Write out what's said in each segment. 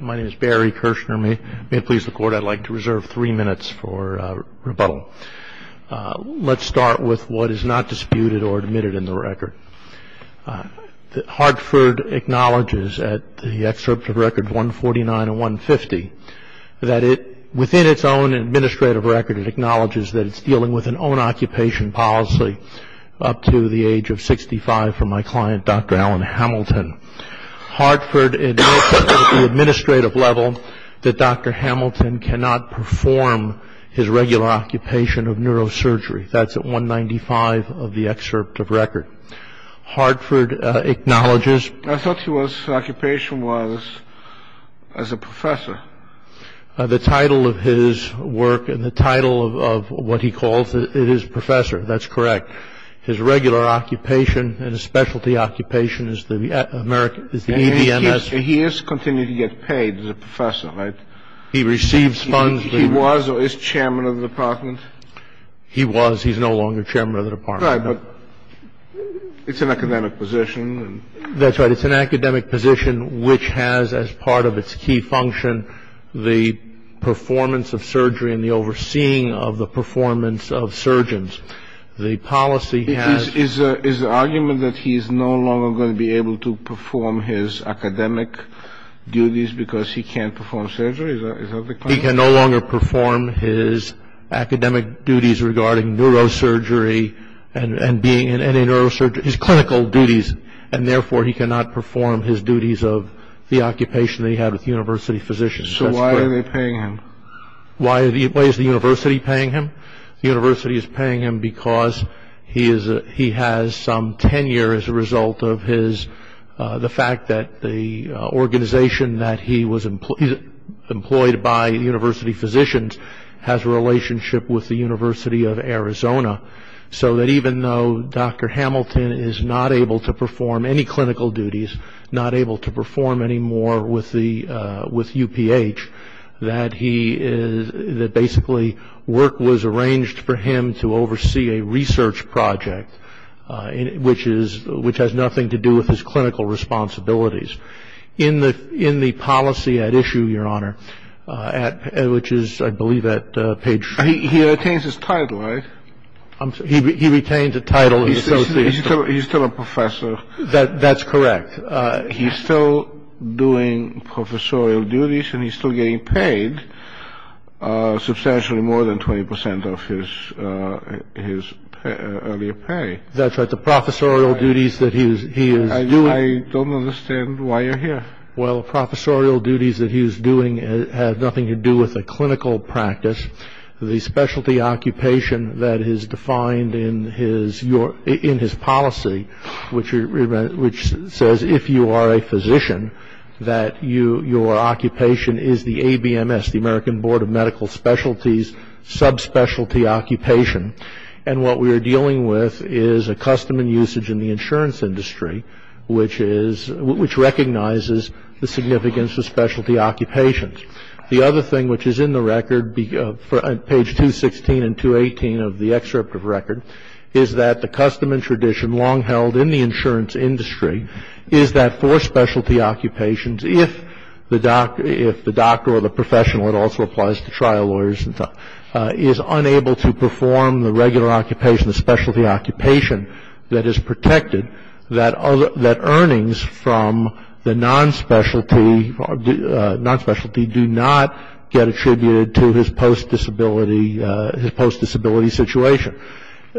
My name is Barry Kirshner. May it please the Court, I'd like to reserve three minutes for rebuttal. Let's start with what is not disputed or admitted in the record. Hartford acknowledges at the excerpt of Record 149 and 150 that within its own administrative record, it acknowledges that it's dealing with an own-occupation policy up to the age of 65 from my client, Dr. Alan Hamilton. Hartford acknowledges at the administrative level that Dr. Hamilton cannot perform his regular occupation of neurosurgery. That's at 195 of the excerpt of Record. Hartford acknowledges... I thought his occupation was as a professor. The title of his work and the title of what he calls it is professor. That's correct. His regular occupation and his specialty occupation is the EDMS... He is continuing to get paid as a professor, right? He receives funds... He was or is chairman of the department? He was. He's no longer chairman of the department. Right, but it's an academic position. That's right. It's an academic position which has as part of its key function the performance of surgery and the overseeing of the performance of surgeons. The policy has... Is the argument that he's no longer going to be able to perform his academic duties because he can't perform surgery? Is that the claim? He can no longer perform his academic duties regarding neurosurgery and being in neurosurgery, his clinical duties, and therefore he cannot perform his duties of the occupation that he had with university physicians. So why are they paying him? Why is the university paying him? The university is paying him because he has some tenure as a result of his... The fact that the organization that he was employed by, university physicians, has a relationship with the University of Arizona. So that even though Dr. Hamilton is not able to perform any clinical duties, not able to perform anymore with UPH, that basically work was arranged for him to oversee a research project which has nothing to do with his clinical responsibilities. In the policy at issue, Your Honor, which is I believe at page... He retains his title, right? He retains a title of associate. He's still a professor. That's correct. He's still doing professorial duties and he's still getting paid substantially more than 20% of his earlier pay. That's right. The professorial duties that he is doing... I don't understand why you're here. Well, professorial duties that he is doing have nothing to do with a clinical practice. The specialty occupation that is defined in his policy, which says if you are a physician, that your occupation is the ABMS, the American Board of Medical Specialties, subspecialty occupation. And what we are dealing with is a custom and usage in the insurance industry, which recognizes the significance of specialty occupations. The other thing which is in the record, page 216 and 218 of the excerpt of record, is that the custom and tradition long held in the insurance industry is that for specialty occupations, if the doctor or the professional, it also applies to trial lawyers, is unable to perform the regular occupation, the specialty occupation that is protected, that earnings from the non-specialty do not get attributed to his post-disability situation.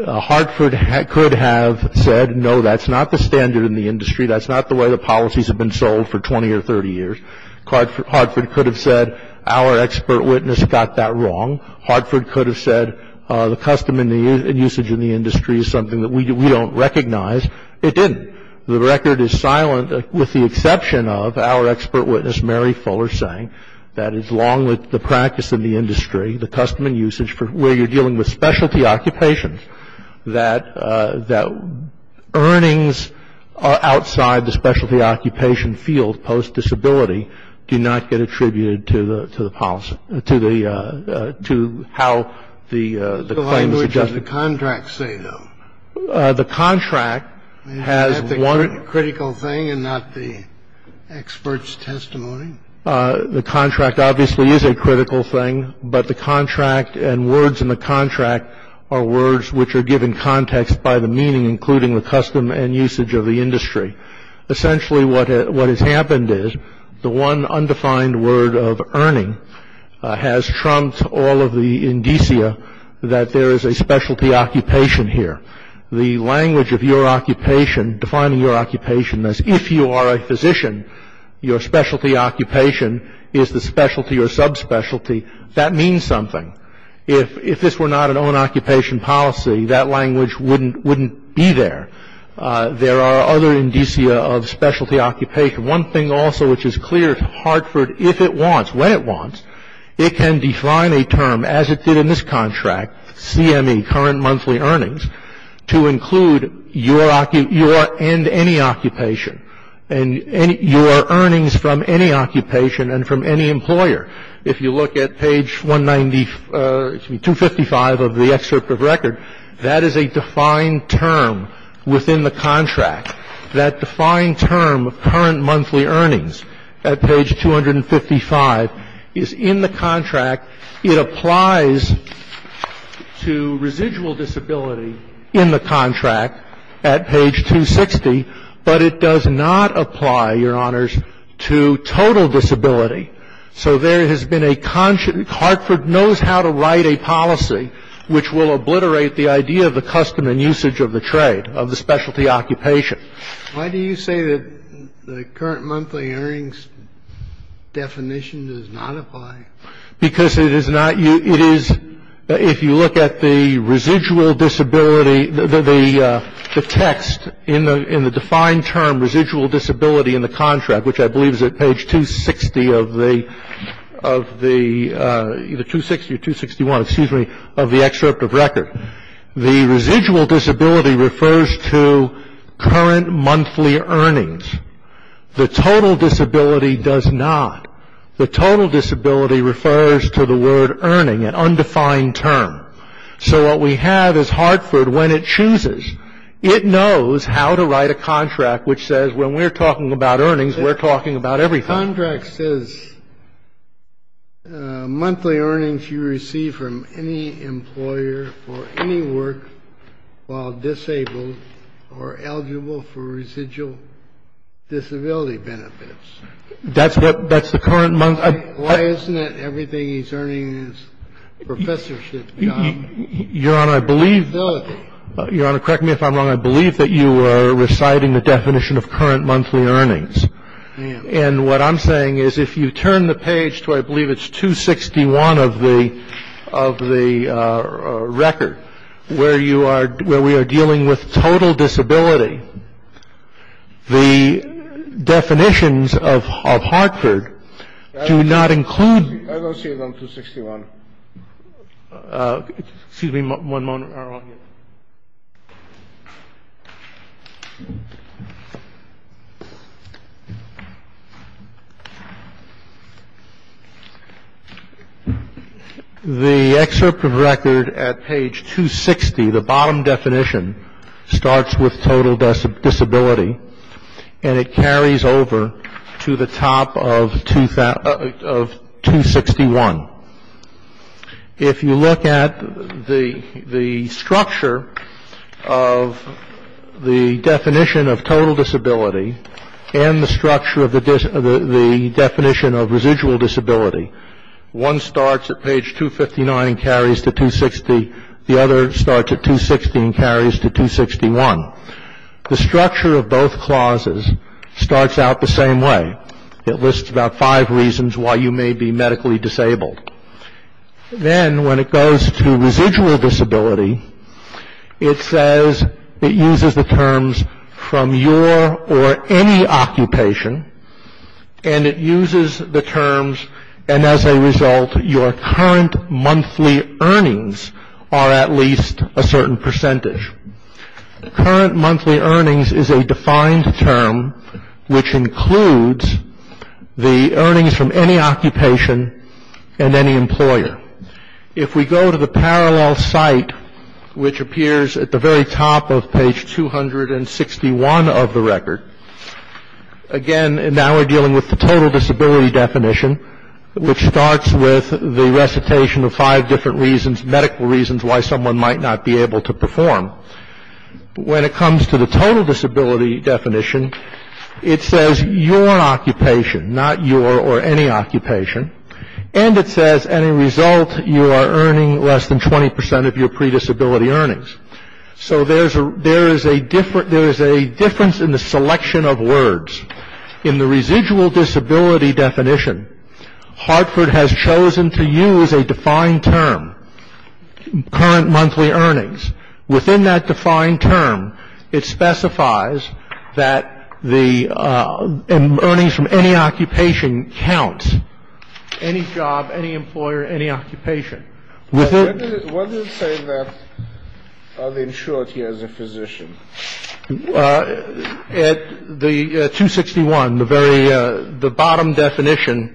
Hartford could have said, no, that's not the standard in the industry. That's not the way the policies have been sold for 20 or 30 years. Hartford could have said, our expert witness got that wrong. Hartford could have said, the custom and usage in the industry is something that we don't recognize. It didn't. The record is silent with the exception of our expert witness, Mary Fuller, saying, that as long as the practice in the industry, the custom and usage, where you're dealing with specialty occupations, that earnings outside the specialty occupation field post-disability do not get attributed to the policy, to how the claims are justified. The language of the contract say, though? The contract has one of the --. Is that the critical thing and not the expert's testimony? The contract obviously is a critical thing, but the contract and words in the contract are words which are given context by the meaning, including the custom and usage of the industry. Essentially, what has happened is the one undefined word of earning has trumped all of the indicia that there is a specialty occupation here. The language of your occupation, defining your occupation as if you are a physician, your specialty occupation is the specialty or subspecialty, that means something. If this were not an own-occupation policy, that language wouldn't be there. There are other indicia of specialty occupation. One thing also which is clear, Hartford, if it wants, when it wants, it can define a term as it did in this contract, CME, current monthly earnings, to include your and any occupation and your earnings from any occupation and from any employer. If you look at page 195 of the excerpt of record, that is a defined term within the contract. That defined term of current monthly earnings at page 255 is in the contract. It applies to residual disability in the contract at page 260, but it does not apply, Your Honors, to total disability. So there has been a concern. Hartford knows how to write a policy which will obliterate the idea of the custom and usage of the trade, of the specialty occupation. Why do you say that the current monthly earnings definition does not apply? Because it is not, it is, if you look at the residual disability, the text in the defined term residual disability in the contract, which I believe is at page 260 of the, either 260 or 261, excuse me, of the excerpt of record. The residual disability refers to current monthly earnings. The total disability does not. The total disability refers to the word earning, an undefined term. So what we have is Hartford, when it chooses, it knows how to write a contract which says, when we're talking about earnings, we're talking about everything. The contract says monthly earnings you receive from any employer for any work while disabled or eligible for residual disability benefits. That's the current monthly? Why isn't it everything he's earning in his professorship job? Your Honor, I believe, Your Honor, correct me if I'm wrong, I believe that you are reciting the definition of current monthly earnings. Yes. And what I'm saying is if you turn the page to, I believe it's 261 of the record, where you are, where we are dealing with total disability, the definitions of Hartford do not include. I don't see it on 261. Excuse me one moment. The excerpt of record at page 260, the bottom definition, starts with total disability and it carries over to the top of 261. If you look at the structure of the definition of total disability and the structure of the definition of residual disability, one starts at page 259 and carries to 260, the other starts at 260 and carries to 261. The structure of both clauses starts out the same way. It lists about five reasons why you may be medically disabled. Then when it goes to residual disability, it says it uses the terms from your or any occupation and it uses the terms and as a result your current monthly earnings are at least a certain percentage. Current monthly earnings is a defined term, which includes the earnings from any occupation and any employer. If we go to the parallel site, which appears at the very top of page 261 of the record, again now we're dealing with the total disability definition, which starts with the recitation of five different reasons, medical reasons why someone might not be able to perform. When it comes to the total disability definition, it says your occupation, not your or any occupation, and it says as a result you are earning less than 20% of your pre-disability earnings. So there is a difference in the selection of words. In the residual disability definition, Hartford has chosen to use a defined term, current monthly earnings. Within that defined term, it specifies that the earnings from any occupation counts, any job, any employer, any occupation. What does it say that he is a physician? At 261, the bottom definition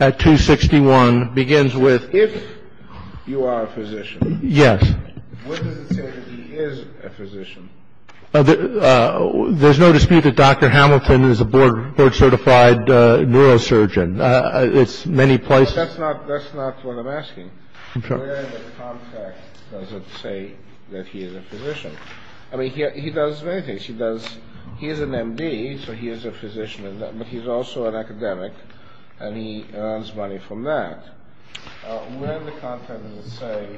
at 261 begins with if you are a physician. Yes. What does it say that he is a physician? There's no dispute that Dr. Hamilton is a board certified neurosurgeon. It's many places. That's not what I'm asking. Where in the contract does it say that he is a physician? I mean, he does many things. He is an M.D., so he is a physician, but he's also an academic, and he earns money from that. Where in the contract does it say?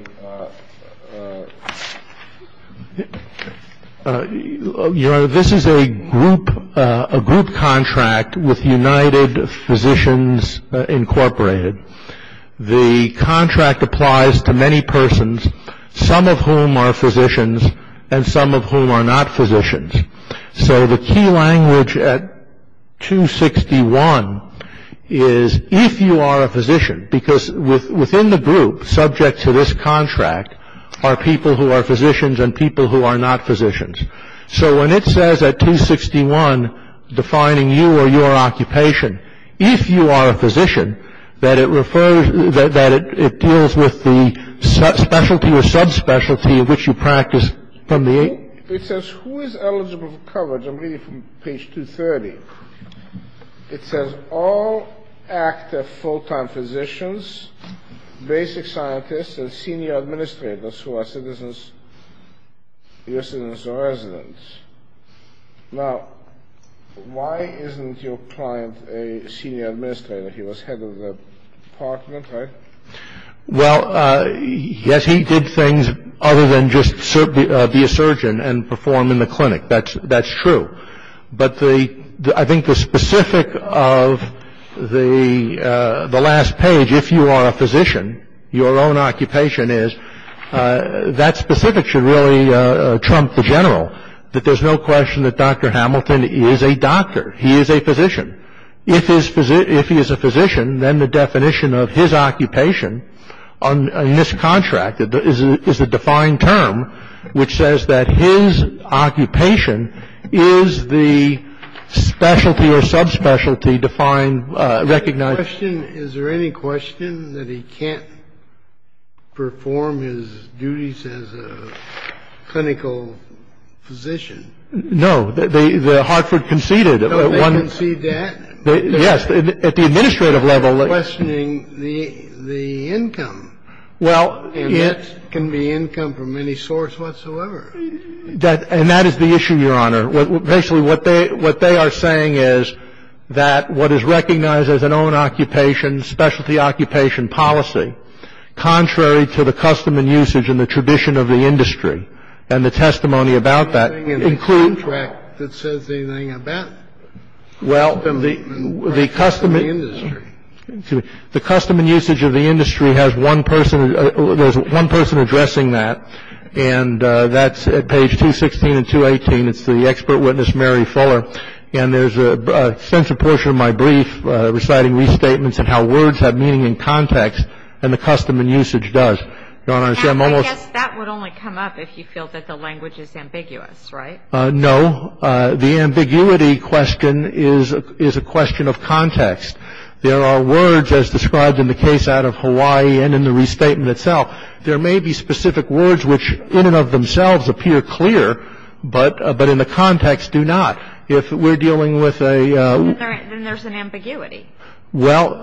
Your Honor, this is a group contract with United Physicians Incorporated. The contract applies to many persons, some of whom are physicians and some of whom are not physicians. So the key language at 261 is if you are a physician, because within the group, subject to this contract, are people who are physicians and people who are not physicians. So when it says at 261, defining you or your occupation, if you are a physician, that it refers — that it deals with the specialty or subspecialty of which you practice from the age — It says who is eligible for coverage. I'm reading from page 230. It says all active full-time physicians, basic scientists, and senior administrators who are citizens or residents. Now, why isn't your client a senior administrator? He was head of the department, right? Well, yes, he did things other than just be a surgeon and perform in the clinic. That's true. But I think the specific of the last page, if you are a physician, your own occupation is, that specific should really trump the general, that there's no question that Dr. Hamilton is a doctor. He is a physician. If he is a physician, then the definition of his occupation in this contract is a defined term, which says that his occupation is the specialty or subspecialty defined, recognized — Is there any question that he can't perform his duties as a clinical physician? No. Hartford conceded. Oh, they conceded that? Yes. At the administrative level — They're questioning the income. Well, it — And that can be income from any source whatsoever. And that is the issue, Your Honor. Basically, what they are saying is that what is recognized as an own occupation, specialty occupation policy, contrary to the custom and usage and the tradition of the industry and the testimony about that — Anything in the contract that says anything about the custom and usage of the industry. The custom and usage of the industry has one person — there's one person addressing that, and that's at page 216 and 218. It's the expert witness, Mary Fuller. And there's an extensive portion of my brief reciting restatements and how words have meaning in context and the custom and usage does. Your Honor, I'm almost — I guess that would only come up if you feel that the language is ambiguous, right? No. The ambiguity question is a question of context. There are words, as described in the case out of Hawaii and in the restatement itself, there may be specific words which in and of themselves appear clear, but in the context do not. If we're dealing with a — Then there's an ambiguity. Well,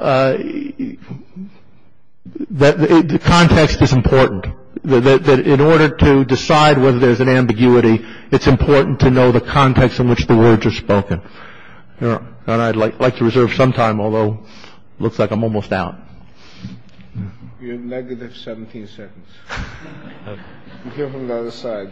the context is important. In order to decide whether there's an ambiguity, it's important to know the context in which the words are spoken. And I'd like to reserve some time, although it looks like I'm almost out. You have negative 17 seconds. We'll hear from the other side.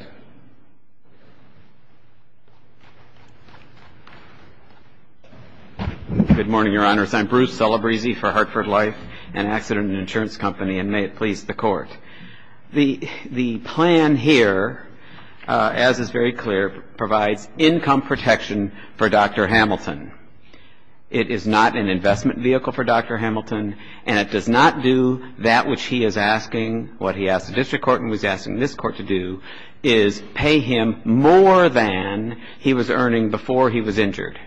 Good morning, Your Honors. I'm Bruce Celebrezzi for Hartford Life, an accident and insurance company, and may it please the Court. The plan here, as is very clear, provides income protection for Dr. Hamilton. It is not an investment vehicle for Dr. Hamilton, and it does not do that which he is asking, what he asked the district court and was asking this court to do, is pay him more than he was earning before he was injured.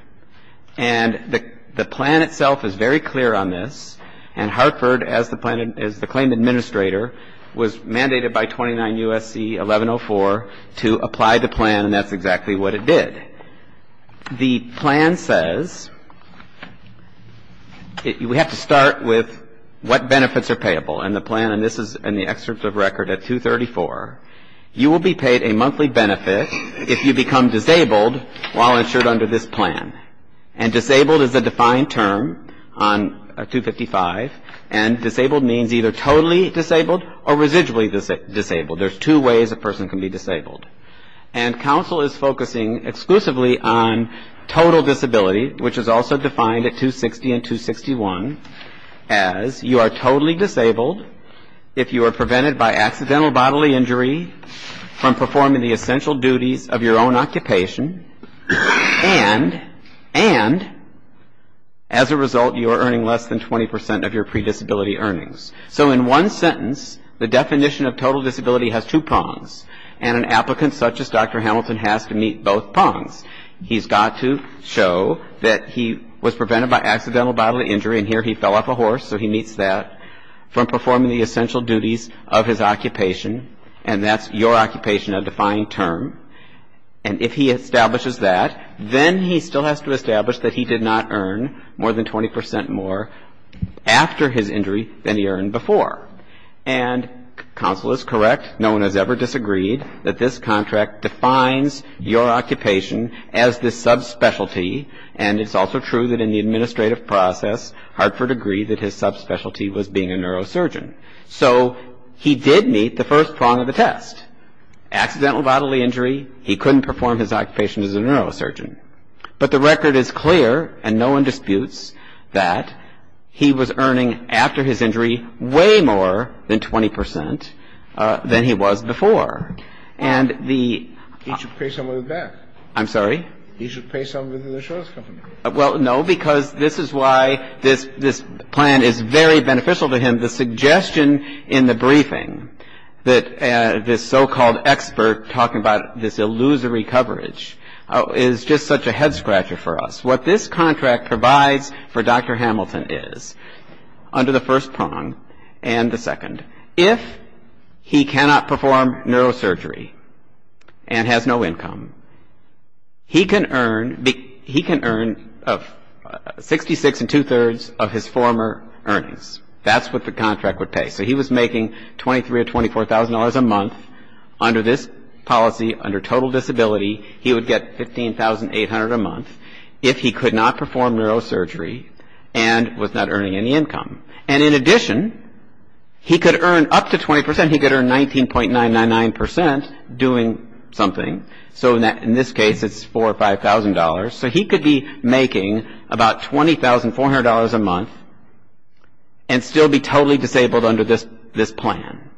And the plan itself is very clear on this, and Hartford, as the claim administrator, was mandated by 29 U.S.C. 1104 to apply the plan, and that's exactly what it did. The plan says — we have to start with what benefits are payable in the plan, and this is in the excerpt of record at 234. You will be paid a monthly benefit if you become disabled while insured under this plan. And disabled is a defined term on 255, and disabled means either totally disabled or residually disabled. There's two ways a person can be disabled. And counsel is focusing exclusively on total disability, which is also defined at 260 and 261, as you are totally disabled if you are prevented by accidental bodily injury from performing the essential duties of your own occupation, and as a result, you are earning less than 20 percent of your predisability earnings. So in one sentence, the definition of total disability has two prongs, and an applicant such as Dr. Hamilton has to meet both prongs. He's got to show that he was prevented by accidental bodily injury, and here he fell off a horse, so he meets that, from performing the essential duties of his occupation, and that's your occupation, a defined term. And if he establishes that, then he still has to establish that he did not earn more than 20 percent more after his injury than he earned before. And counsel is correct. No one has ever disagreed that this contract defines your occupation as the subspecialty, and it's also true that in the administrative process, Hartford agreed that his subspecialty was being a neurosurgeon. So he did meet the first prong of the test. Accidental bodily injury, he couldn't perform his occupation as a neurosurgeon. But the record is clear, and no one disputes, that he was earning after his injury way more than 20 percent than he was before. And the — He should pay some of it back. I'm sorry? He should pay some of it to the insurance company. Well, no, because this is why this plan is very beneficial to him. And the suggestion in the briefing that this so-called expert talking about this illusory coverage is just such a head-scratcher for us. What this contract provides for Dr. Hamilton is, under the first prong and the second, if he cannot perform neurosurgery and has no income, he can earn 66 and two-thirds of his former earnings. That's what the contract would pay. So he was making $23,000 or $24,000 a month. Under this policy, under total disability, he would get $15,800 a month if he could not perform neurosurgery and was not earning any income. And in addition, he could earn up to 20 percent. He could earn 19.999 percent doing something. So he could be making about $20,400 a month and still be totally disabled under this plan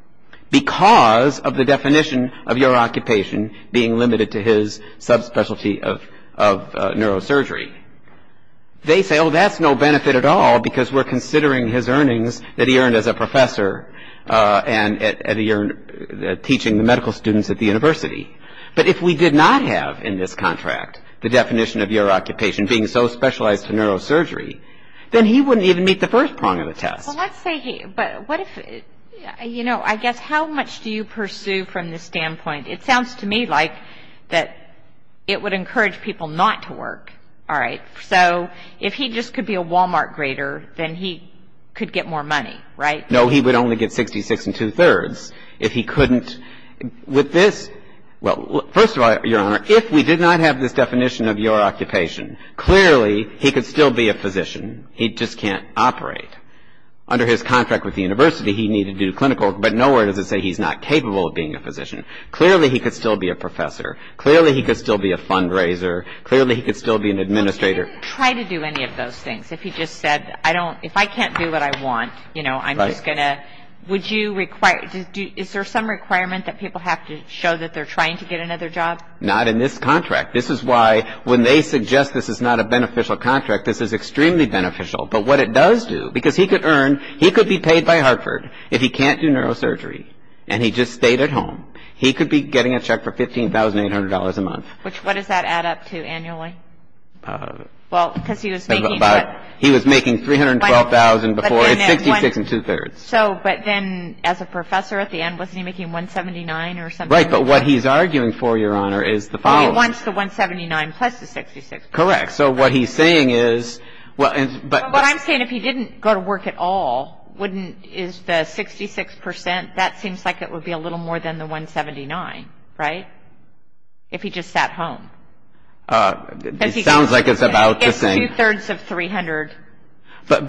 because of the definition of your occupation being limited to his subspecialty of neurosurgery. They say, oh, that's no benefit at all because we're considering his earnings that he earned as a professor and that he earned teaching the medical students at the university. But if we did not have in this contract the definition of your occupation being so specialized in neurosurgery, then he wouldn't even meet the first prong of the test. Well, let's say he, but what if, you know, I guess how much do you pursue from this standpoint? It sounds to me like that it would encourage people not to work, all right? So if he just could be a Walmart grader, then he could get more money, right? No, he would only get 66 and two-thirds if he couldn't. With this, well, first of all, Your Honor, if we did not have this definition of your occupation, clearly he could still be a physician. He just can't operate. Under his contract with the university, he needed to do clinical work, but nowhere does it say he's not capable of being a physician. Clearly he could still be a professor. Clearly he could still be a fundraiser. Clearly he could still be an administrator. Well, he didn't try to do any of those things. If he just said, I don't, if I can't do what I want, you know, I'm just going to. Would you require, is there some requirement that people have to show that they're trying to get another job? Not in this contract. This is why when they suggest this is not a beneficial contract, this is extremely beneficial. But what it does do, because he could earn, he could be paid by Hartford if he can't do neurosurgery and he just stayed at home. He could be getting a check for $15,800 a month. What does that add up to annually? Well, because he was making. He was making $312,000 before, it's 66 and two-thirds. So, but then as a professor at the end, wasn't he making $179,000 or something? Right. But what he's arguing for, Your Honor, is the following. Oh, he wants the $179,000 plus the 66%. Correct. So what he's saying is. What I'm saying, if he didn't go to work at all, wouldn't, is the 66%, that seems like it would be a little more than the $179,000, right? If he just sat home. It sounds like it's about the same. It's two-thirds of $300,000. But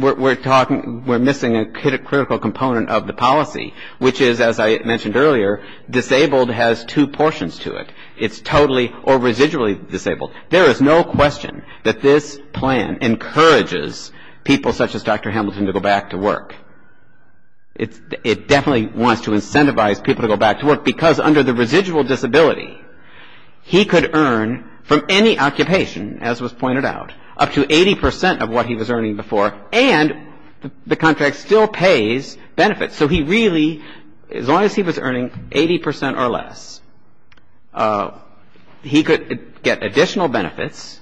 we're talking, we're missing a critical component of the policy, which is, as I mentioned earlier, disabled has two portions to it. It's totally or residually disabled. There is no question that this plan encourages people such as Dr. Hamilton to go back to work. It definitely wants to incentivize people to go back to work because under the residual disability, he could earn from any occupation, as was pointed out, up to 80% of what he was earning before. And the contract still pays benefits. So he really, as long as he was earning 80% or less, he could get additional benefits.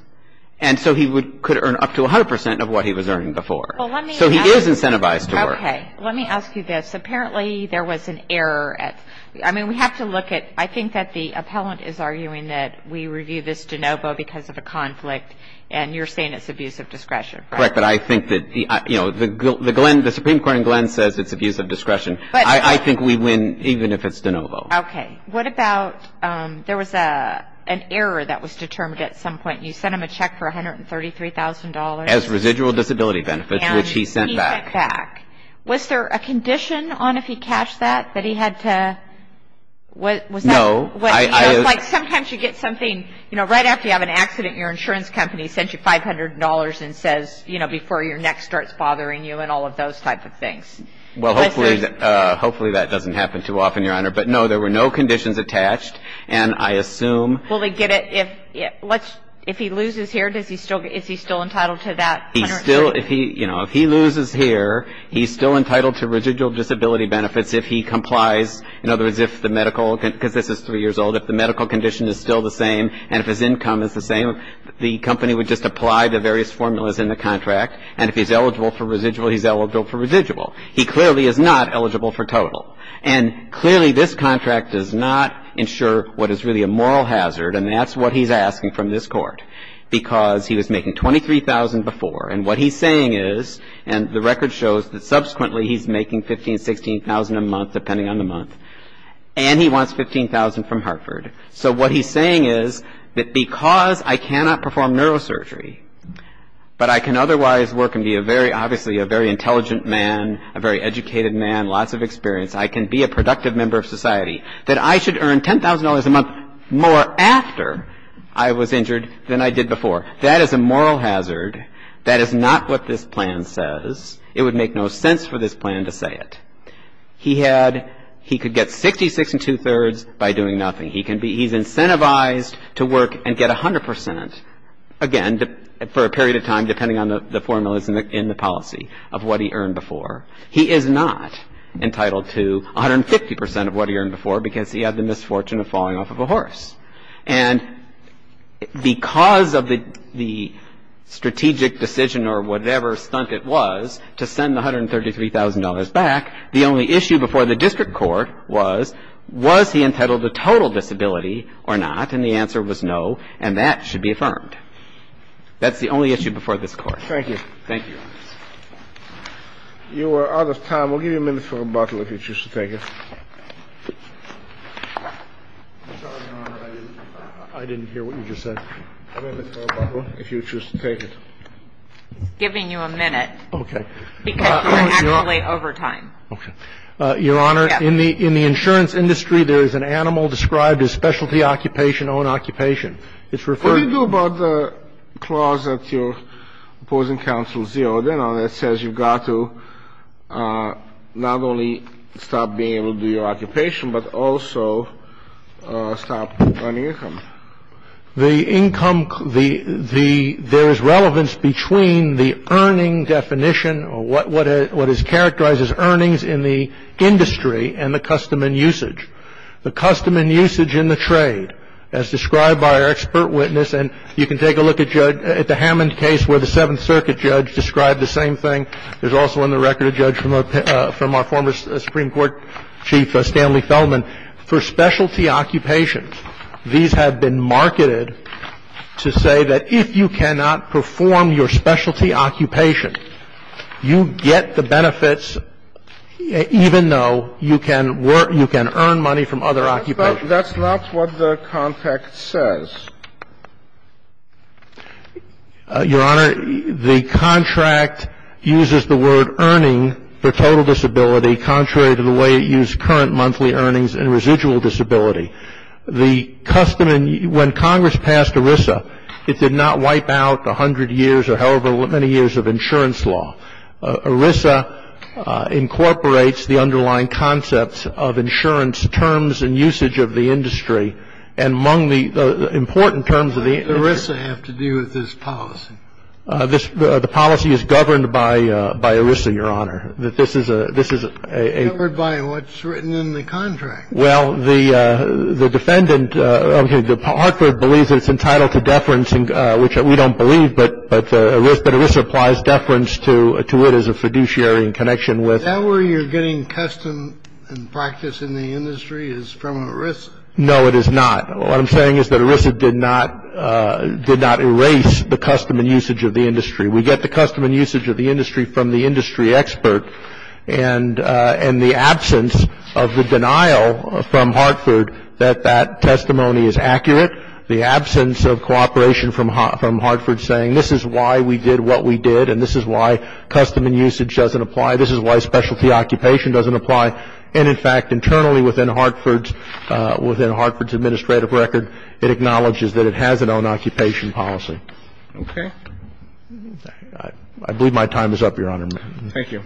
And so he could earn up to 100% of what he was earning before. So he is incentivized to work. Okay. Let me ask you this. Apparently, there was an error at, I mean, we have to look at, I think that the appellant is arguing that we review this de novo because of a conflict and you're saying it's abuse of discretion, right? Correct. But I think that, you know, the Supreme Court in Glenn says it's abuse of discretion. I think we win even if it's de novo. Okay. What about there was an error that was determined at some point. You sent him a check for $133,000. As residual disability benefits, which he sent back. And he sent back. Was there a condition on if he cashed that, that he had to, was that? No. Like sometimes you get something, you know, right after you have an accident, your insurance company sends you $500 and says, you know, before your neck starts bothering you and all of those type of things. Well, hopefully that doesn't happen too often, Your Honor. But, no, there were no conditions attached. And I assume. If he loses here, he's still entitled to residual disability benefits if he complies. In other words, if the medical, because this is three years old, if the medical condition is still the same and if his income is the same, the company would just apply the various formulas in the contract. And if he's eligible for residual, he's eligible for residual. He clearly is not eligible for total. And clearly this contract does not ensure what is really a moral hazard, and that's what he's asking from this Court. Because he was making $23,000 before, and what he's saying is, and the record shows that subsequently he's making $15,000, $16,000 a month, depending on the month, and he wants $15,000 from Hartford. So what he's saying is that because I cannot perform neurosurgery, but I can otherwise work and be a very, obviously a very intelligent man, a very educated man, lots of experience, I can be a productive member of society, that I should earn $10,000 a month more after I was injured than I did before. That is a moral hazard. That is not what this plan says. It would make no sense for this plan to say it. He had, he could get 66 and two-thirds by doing nothing. He can be, he's incentivized to work and get 100 percent, again, for a period of time depending on the formulas in the policy of what he earned before. He is not entitled to 150 percent of what he earned before because he had the misfortune of falling off of a horse. And because of the strategic decision or whatever stunt it was to send the $133,000 back, the only issue before the district court was, was he entitled to total disability or not, and the answer was no, and that should be affirmed. That's the only issue before this Court. Thank you. Thank you, Your Honors. You are out of time. We'll give you a minute for rebuttal if you choose to take it. I'm sorry, Your Honor. I didn't hear what you just said. A minute for rebuttal if you choose to take it. I'm giving you a minute. Okay. Because you're actually over time. Okay. Your Honor, in the insurance industry, there is an animal described as specialty occupation, own occupation. It's referred to as the specialty occupation. You know, that says you've got to not only stop being able to do your occupation, but also stop earning income. The income, there is relevance between the earning definition, or what is characterized as earnings in the industry, and the custom and usage. The custom and usage in the trade, as described by our expert witness, and you can take a look at the Hammond case where the Seventh Circuit judge described the same thing. There's also in the record a judge from our former Supreme Court chief, Stanley Fellman. For specialty occupations, these have been marketed to say that if you cannot perform your specialty occupation, you get the benefits even though you can earn money from other occupations. But that's not what the contract says. Your Honor, the contract uses the word earning for total disability contrary to the way it used current monthly earnings and residual disability. The custom and ‑‑ when Congress passed ERISA, it did not wipe out the hundred years or however many years of insurance law. ERISA incorporates the underlying concepts of insurance terms and usage of the industry, and among the important terms of the industry. What does ERISA have to do with this policy? The policy is governed by ERISA, Your Honor. This is a ‑‑ It's governed by what's written in the contract. Well, the defendant, okay, Hartford believes it's entitled to deference, which we don't believe, but ERISA applies deference to it as a fiduciary in connection with ‑‑ Is that where you're getting custom and practice in the industry is from ERISA? No, it is not. What I'm saying is that ERISA did not erase the custom and usage of the industry. We get the custom and usage of the industry from the industry expert, and the absence of the denial from Hartford that that testimony is accurate, the absence of cooperation from Hartford saying this is why we did what we did, and this is why custom and usage doesn't apply, this is why specialty occupation doesn't apply. And, in fact, internally within Hartford's administrative record, it acknowledges that it has its own occupation policy. Okay. I believe my time is up, Your Honor. Thank you.